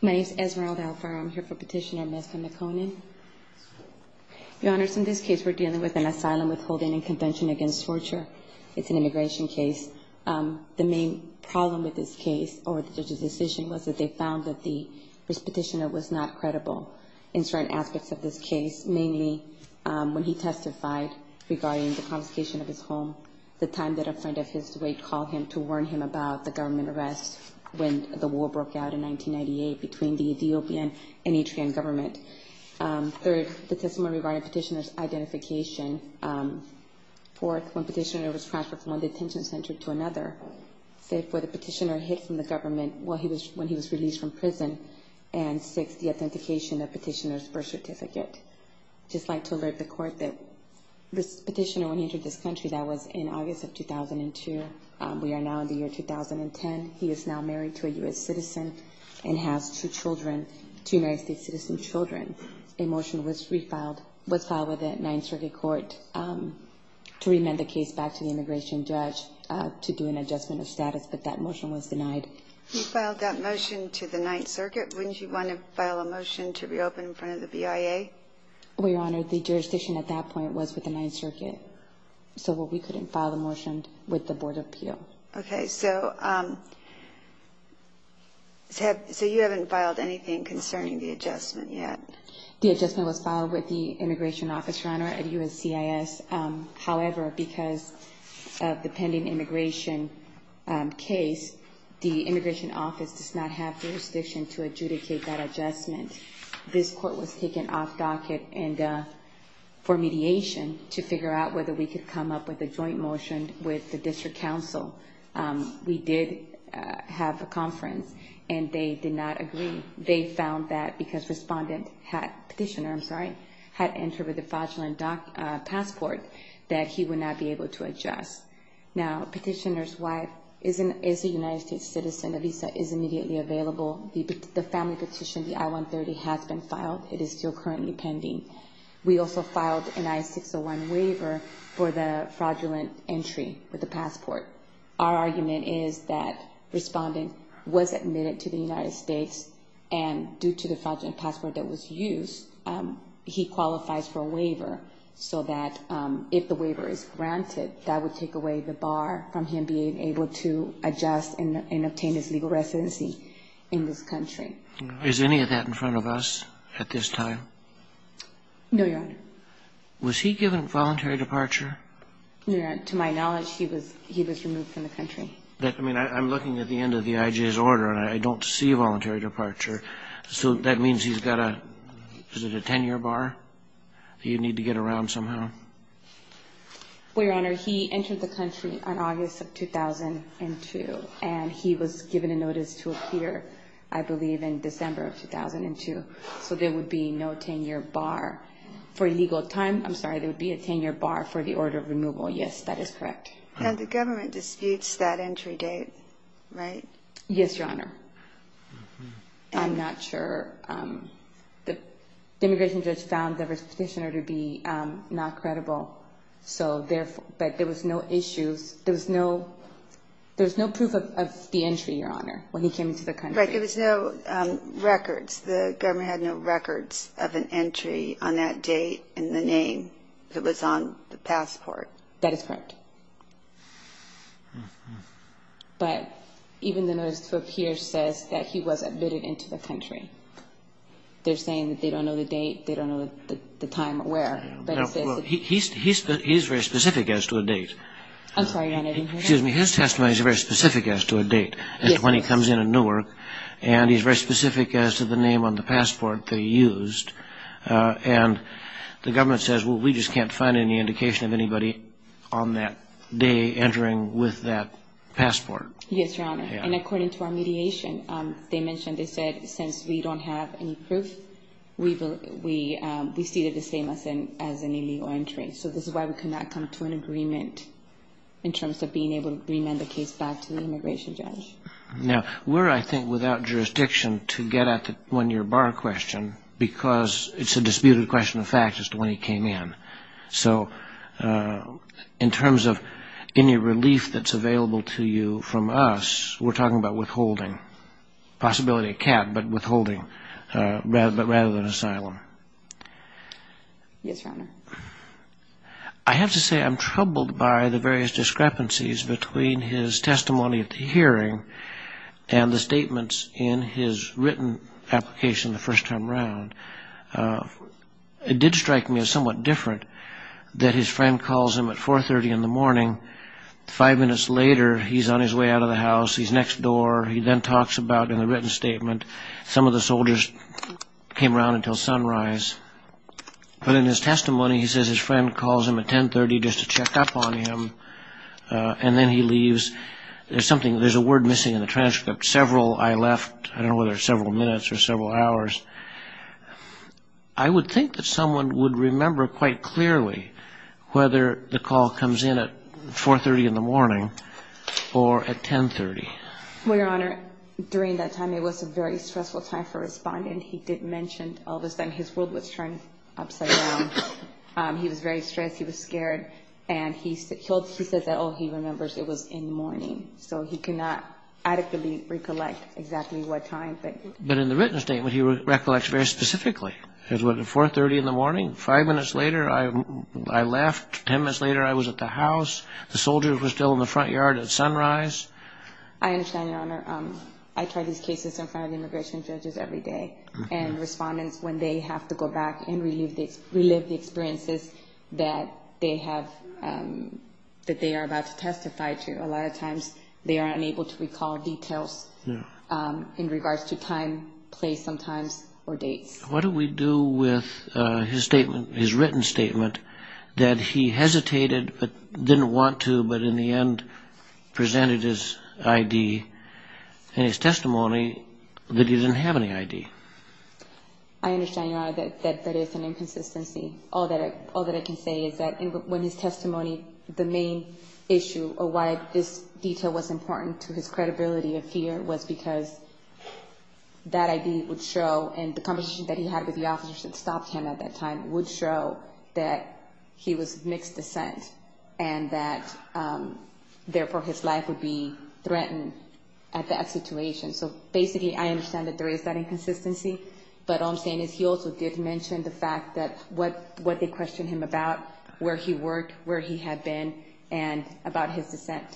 My name is Esmeralda Alfaro. I'm here for Petitioner Mekonnen. Your Honors, in this case we're dealing with an asylum withholding and convention against torture. It's an immigration case. The main problem with this case, or the judge's decision, was that they found that the petitioner was not credible in certain aspects of this case, mainly when he testified regarding the confiscation of his home, the time that a friend of his weight called him to warn him about the government arrests when the war broke out in 1998 between the Ethiopian and Eritrean government. Third, the testimony regarding petitioner's identification. Fourth, when petitioner was transferred from one detention center to another. Fifth, where the petitioner hid from the government when he was released from prison. And sixth, the authentication of petitioner's birth certificate. I'd just like to alert the Court that this petitioner, when he entered this country, that was in August of 2002. We are now in the year 2010. He is now married to a U.S. citizen and has two children, two United States citizen children. A motion was filed with the Ninth Circuit Court to remand the case back to the immigration judge to do an adjustment of status, but that motion was denied. You filed that motion to the Ninth Circuit. Wouldn't you want to file a motion to reopen in front of the BIA? Well, Your Honor, the jurisdiction at that point was with the Ninth Circuit, so we couldn't file a motion with the Board of Appeal. Okay, so you haven't filed anything concerning the adjustment yet? The adjustment was filed with the Immigration Office, Your Honor, at USCIS. However, because of the pending immigration case, the Immigration Office does not have jurisdiction to adjudicate that adjustment. This Court was taken off docket for mediation to figure out whether we could come up with a joint motion with the District Council. We did have a conference, and they did not agree. They found that because Respondent Petitioner had entered with a fraudulent passport, that he would not be able to adjust. Now, Petitioner's wife is a United States citizen. The visa is immediately available. The family petition, the I-130, has been filed. It is still currently pending. We also filed an I-601 waiver for the fraudulent entry with the passport. Our argument is that Respondent was admitted to the United States, and due to the fraudulent passport that was used, he qualifies for a waiver so that if the waiver is granted, that would take away the bar from him being able to adjust and obtain his legal residency in this country. Is any of that in front of us at this time? No, Your Honor. Was he given voluntary departure? Your Honor, to my knowledge, he was removed from the country. I mean, I'm looking at the end of the IJ's order, and I don't see voluntary departure. So that means he's got a, is it a 10-year bar that you need to get around somehow? Well, Your Honor, he entered the country on August of 2002, and he was given a notice to appear, I believe, in December of 2002. So there would be no 10-year bar for legal time. I'm sorry, there would be a 10-year bar for the order of removal. Yes, that is correct. And the government disputes that entry date, right? Yes, Your Honor. I'm not sure. The immigration judge found the restitution order to be not credible, but there was no issues. There was no proof of the entry, Your Honor, when he came into the country. Right, there was no records. The government had no records of an entry on that date and the name that was on the passport. That is correct. But even the notice to appear says that he was admitted into the country. They're saying that they don't know the date, they don't know the time or where. Well, he's very specific as to a date. I'm sorry, Your Honor, I didn't hear that. Excuse me, his testimony is very specific as to a date. Yes. And when he comes into Newark, and he's very specific as to the name on the passport that he used, and the government says, well, we just can't find any indication of anybody on that day entering with that passport. Yes, Your Honor. And according to our mediation, they mentioned, they said, since we don't have any proof, we see it the same as an illegal entry. So this is why we cannot come to an agreement in terms of being able to remand the case back to the immigration judge. Now, we're, I think, without jurisdiction to get at the one-year bar question, because it's a disputed question of fact as to when he came in. So in terms of any relief that's available to you from us, we're talking about withholding, possibility of cap, but withholding rather than asylum. Yes, Your Honor. I have to say I'm troubled by the various discrepancies between his testimony at the hearing and the statements in his written application the first time around. It did strike me as somewhat different that his friend calls him at 4.30 in the morning. Five minutes later, he's on his way out of the house. He's next door. He then talks about in the written statement, some of the soldiers came around until sunrise. But in his testimony, he says his friend calls him at 10.30 just to check up on him. And then he leaves. There's something, there's a word missing in the transcript. Several, I left, I don't know whether it's several minutes or several hours. I would think that someone would remember quite clearly whether the call comes in at 4.30 in the morning or at 10.30. Well, Your Honor, during that time, it was a very stressful time for a respondent. He did mention all of a sudden his world was turned upside down. He was very stressed. He was scared. And he said that, oh, he remembers it was in the morning. So he cannot adequately recollect exactly what time. But in the written statement, he recollects very specifically. It was at 4.30 in the morning. Five minutes later, I left. Ten minutes later, I was at the house. The soldiers were still in the front yard at sunrise. I understand, Your Honor. I try these cases in front of immigration judges every day. And respondents, when they have to go back and relive the experiences that they have, that they are about to testify to, a lot of times they are unable to recall details in regards to time, place sometimes, or dates. What do we do with his written statement that he hesitated but didn't want to, but in the end presented his ID and his testimony that he didn't have any ID? I understand, Your Honor, that that is an inconsistency. All that I can say is that in his testimony, the main issue of why this detail was important to his credibility of fear was because that ID would show and the conversation that he had with the officers that stopped him at that time would show that he was of mixed descent and that, therefore, his life would be threatened at that situation. So, basically, I understand that there is that inconsistency, but all I'm saying is he also did mention the fact that what they questioned him about, where he worked, where he had been, and about his descent,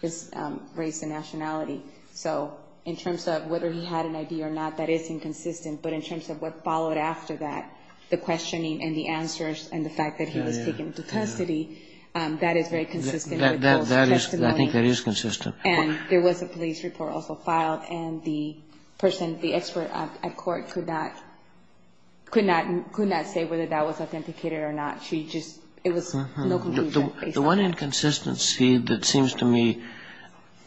his race and nationality. So in terms of whether he had an ID or not, that is inconsistent. But in terms of what followed after that, the questioning and the answers and the fact that he was taken into custody, that is very consistent with those testimonies. I think that is consistent. And there was a police report also filed, and the person, the expert at court could not, could not say whether that was authenticated or not. She just, it was no conclusion based on that. The one inconsistency that seems to me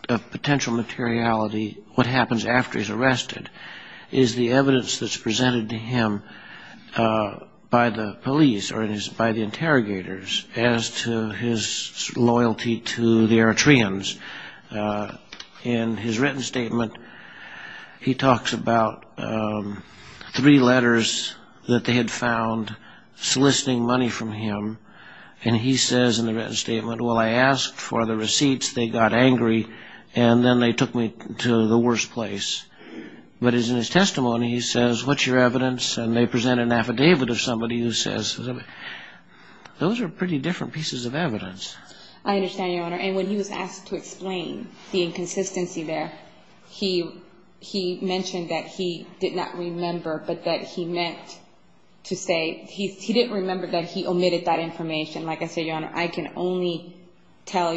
of potential materiality, what happens after he's arrested, is the evidence that's presented to him by the police or by the interrogators as to his loyalty to the Eritreans. In his written statement, he talks about three letters that they had found soliciting money from him, and he says in the written statement, well, I asked for the receipts, they got angry, and then they took me to the worst place. But as in his testimony, he says, what's your evidence? And they present an affidavit of somebody who says, those are pretty different pieces of evidence. I understand, Your Honor. And when he was asked to explain the inconsistency there, he mentioned that he did not remember, but that he meant to say, he didn't remember that he omitted that information. Like I said, Your Honor, I can only tell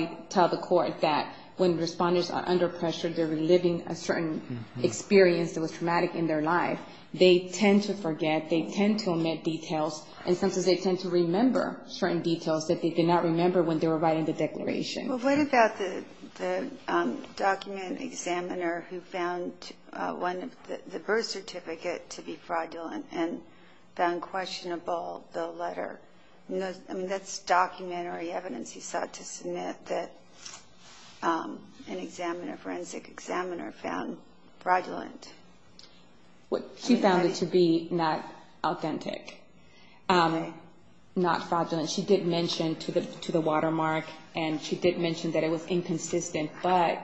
the court that when Respondents are under pressure, they're reliving a certain experience that was traumatic in their life. They tend to forget, they tend to omit details, and sometimes they tend to remember certain details that they did not remember when they were writing the declaration. Well, what about the document examiner who found the birth certificate to be fraudulent and found questionable the letter? I mean, that's documentary evidence he sought to submit that an examiner, forensic examiner, found fraudulent. She found it to be not authentic, not fraudulent. She did mention to the watermark, and she did mention that it was inconsistent, but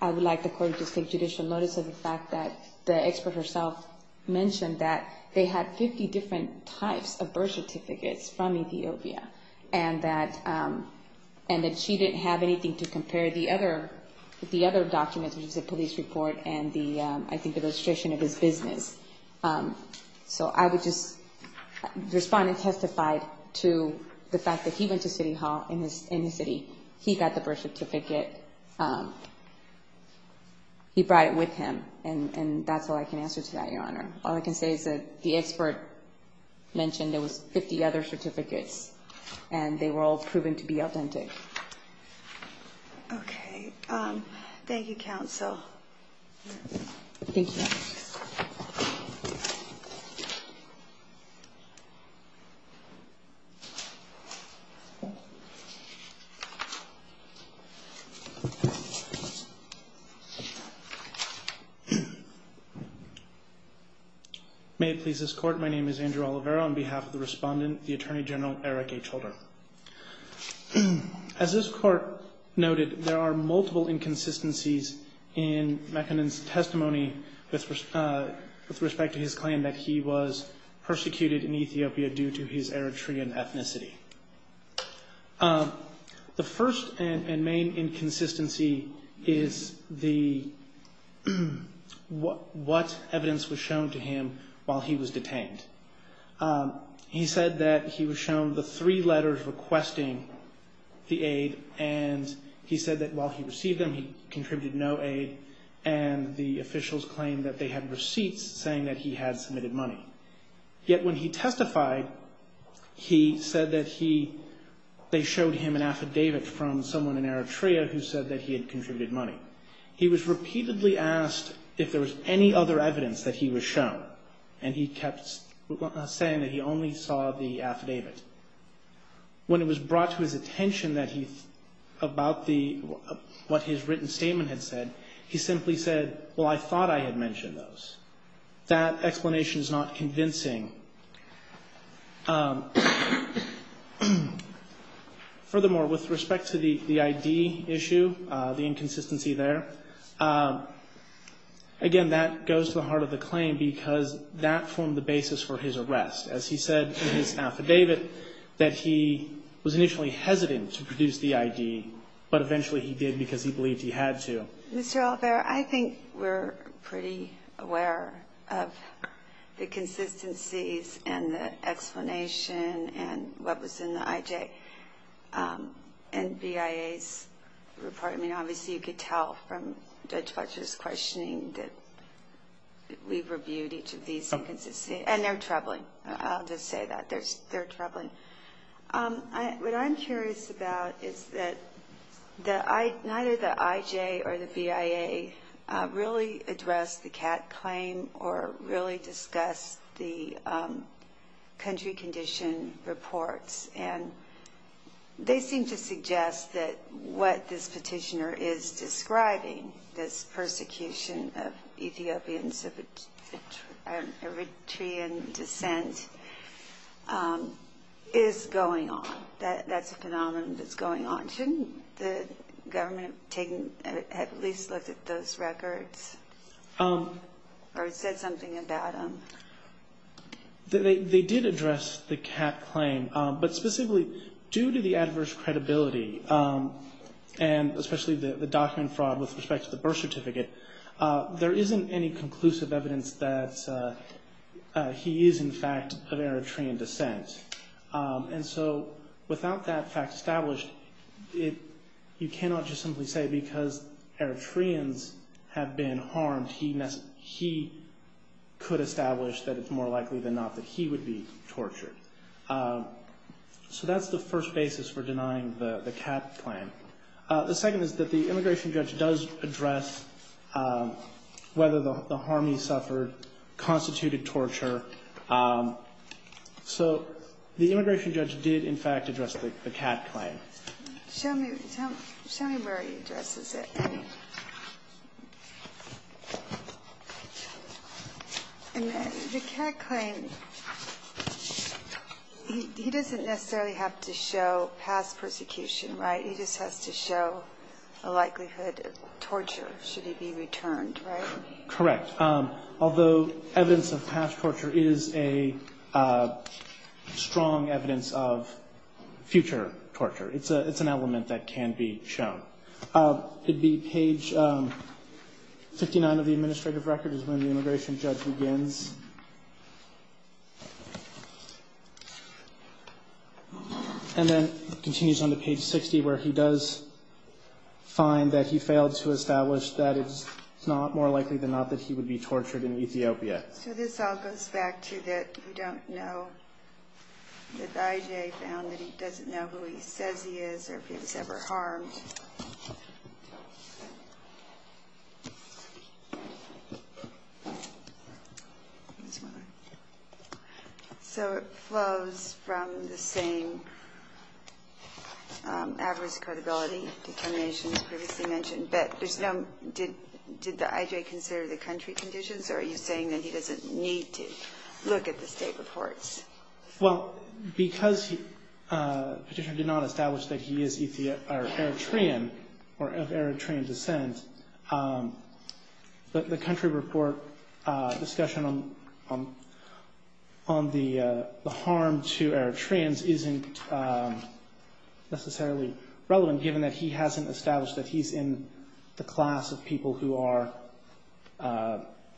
I would like the court to take judicial notice of the fact that the expert herself mentioned that they had 50 different types of birth certificates from Ethiopia, and that she didn't have anything to compare the other documents, which is the police report and the, I think, the registration of his business. So I would just, Respondent testified to the fact that he went to city hall in his city. He got the birth certificate. He brought it with him, and that's all I can answer to that, Your Honor. All I can say is that the expert mentioned there was 50 other certificates, and they were all proven to be authentic. Okay. Thank you, Counsel. Thank you. May it please this Court, my name is Andrew Oliveira. On behalf of the Respondent, the Attorney General, Eric H. Holder. As this Court noted, there are multiple inconsistencies in McKinnon's testimony with respect to his claim that he was persecuted in Ethiopia due to his Eritrean ethnicity. The first and main inconsistency is the, what evidence was shown to him while he was detained. He said that he was shown the three letters requesting the aid, and he said that while he received them, he contributed no aid, and the officials claimed that they had receipts saying that he had submitted money. Yet when he testified, he said that he, they showed him an affidavit from someone in Eritrea who said that he had contributed money. He was repeatedly asked if there was any other evidence that he was shown, and he kept saying that he only saw the affidavit. When it was brought to his attention that he, about the, what his written statement had said, he simply said, well, I thought I had mentioned those. That explanation is not convincing. Furthermore, with respect to the ID issue, the inconsistency there, again, that goes to the heart of the claim because that formed the basis for his arrest. As he said in his affidavit, that he was initially hesitant to produce the ID, but eventually he did because he believed he had to. Mr. Oliver, I think we're pretty aware of the consistencies and the explanation and what was in the IJ and BIA's report. I mean, obviously, you could tell from Judge Fletcher's questioning that we've reviewed each of these inconsistencies, and they're troubling. I'll just say that. They're troubling. What I'm curious about is that neither the IJ or the BIA really addressed the Catt claim or really discussed the country condition reports, and they seem to suggest that what this petitioner is describing, this persecution of Ethiopians of Eritrean descent, is going on. That's a phenomenon that's going on. Shouldn't the government have at least looked at those records or said something about them? They did address the Catt claim, but specifically due to the adverse credibility and especially the document fraud with respect to the birth certificate, there isn't any conclusive evidence that he is, in fact, of Eritrean descent. And so without that fact established, you cannot just simply say because Eritreans have been harmed, he could establish that it's more likely than not that he would be tortured. So that's the first basis for denying the Catt claim. The second is that the immigration judge does address whether the harm he suffered constituted torture. So the immigration judge did, in fact, address the Catt claim. Show me where he addresses it. The Catt claim, he doesn't necessarily have to show past persecution, right? He just has to show a likelihood of torture should he be returned, right? Correct. Although evidence of past torture is a strong evidence of future torture, it's an element that can be shown. It'd be page 59 of the administrative record is when the immigration judge begins. And then it continues on to page 60 where he does find that he failed to establish that it's not more likely than not that he would be tortured in Ethiopia. So this all goes back to that you don't know, that I.J. found that he doesn't know who he says he is or if he was ever harmed. So it flows from the same adverse credibility determination you previously mentioned, but there's no did the I.J. consider the country conditions or are you saying that he doesn't need to look at the State reports? Well, because Petitioner did not establish that he is Eritrean or of Eritrean descent, the country report discussion on the harm to Eritreans isn't necessarily relevant given that he hasn't established that he's in the class of people who are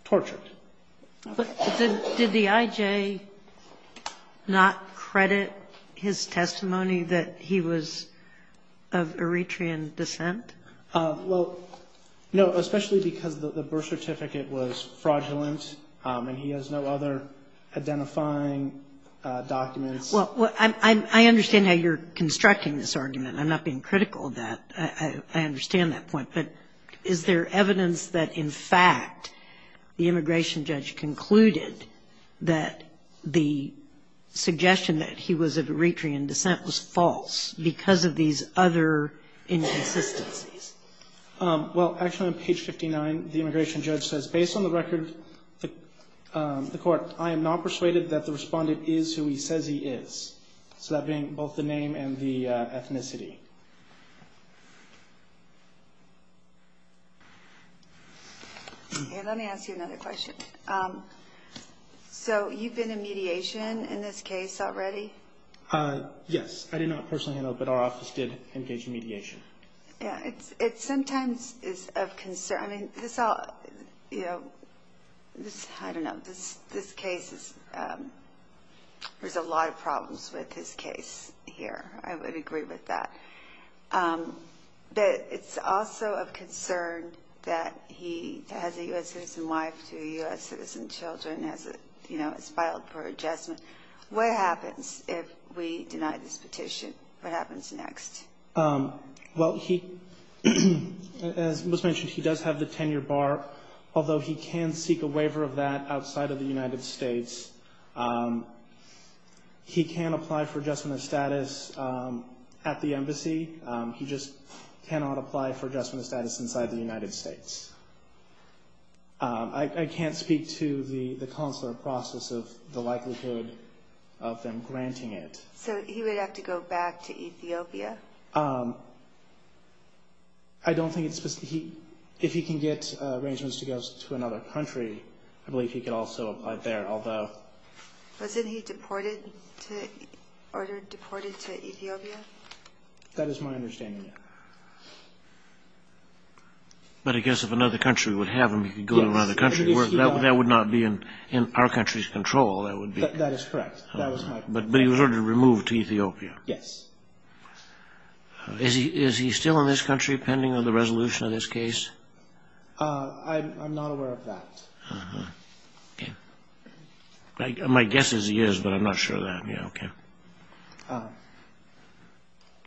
tortured. Did the I.J. not credit his testimony that he was of Eritrean descent? Well, no, especially because the birth certificate was fraudulent and he has no other identifying documents. Well, I understand how you're constructing this argument. I'm not being critical of that. I understand that point. But is there evidence that, in fact, the immigration judge concluded that the suggestion that he was of Eritrean descent was false because of these other inconsistencies? Well, actually on page 59, the immigration judge says, based on the record of the court, I am not persuaded that the respondent is who he says he is, so that being both the name and the ethnicity. Let me ask you another question. So you've been in mediation in this case already? Yes. I did not personally handle it, but our office did engage in mediation. It sometimes is of concern. I don't know. This case is ‑‑ there's a lot of problems with this case here. I would agree with that. But it's also of concern that he has a U.S. citizen wife to U.S. citizen children as filed for adjustment. What happens if we deny this petition? What happens next? Well, as was mentioned, he does have the tenure bar, although he can seek a waiver of that outside of the United States. He can apply for adjustment of status at the embassy. He just cannot apply for adjustment of status inside the United States. I can't speak to the consular process of the likelihood of them granting it. So he would have to go back to Ethiopia? I don't think it's ‑‑ if he can get arrangements to go to another country, I believe he could also apply there, although ‑‑ Wasn't he deported to Ethiopia? That is my understanding. But I guess if another country would have him, he could go to another country. That would not be in our country's control. That is correct. But he was ordered to be removed to Ethiopia? Yes. Is he still in this country pending on the resolution of this case? I'm not aware of that. Okay. My guess is he is, but I'm not sure of that. Okay.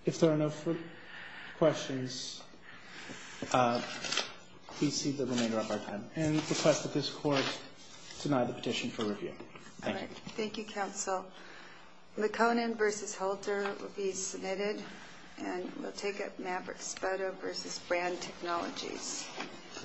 If there are no further questions, please see the remainder of our time and request that this Court deny the petition for review. Thank you. Thank you, Counsel. Maconin v. Holter will be submitted, and we'll take up Maverick Spoda v. Brand Technologies.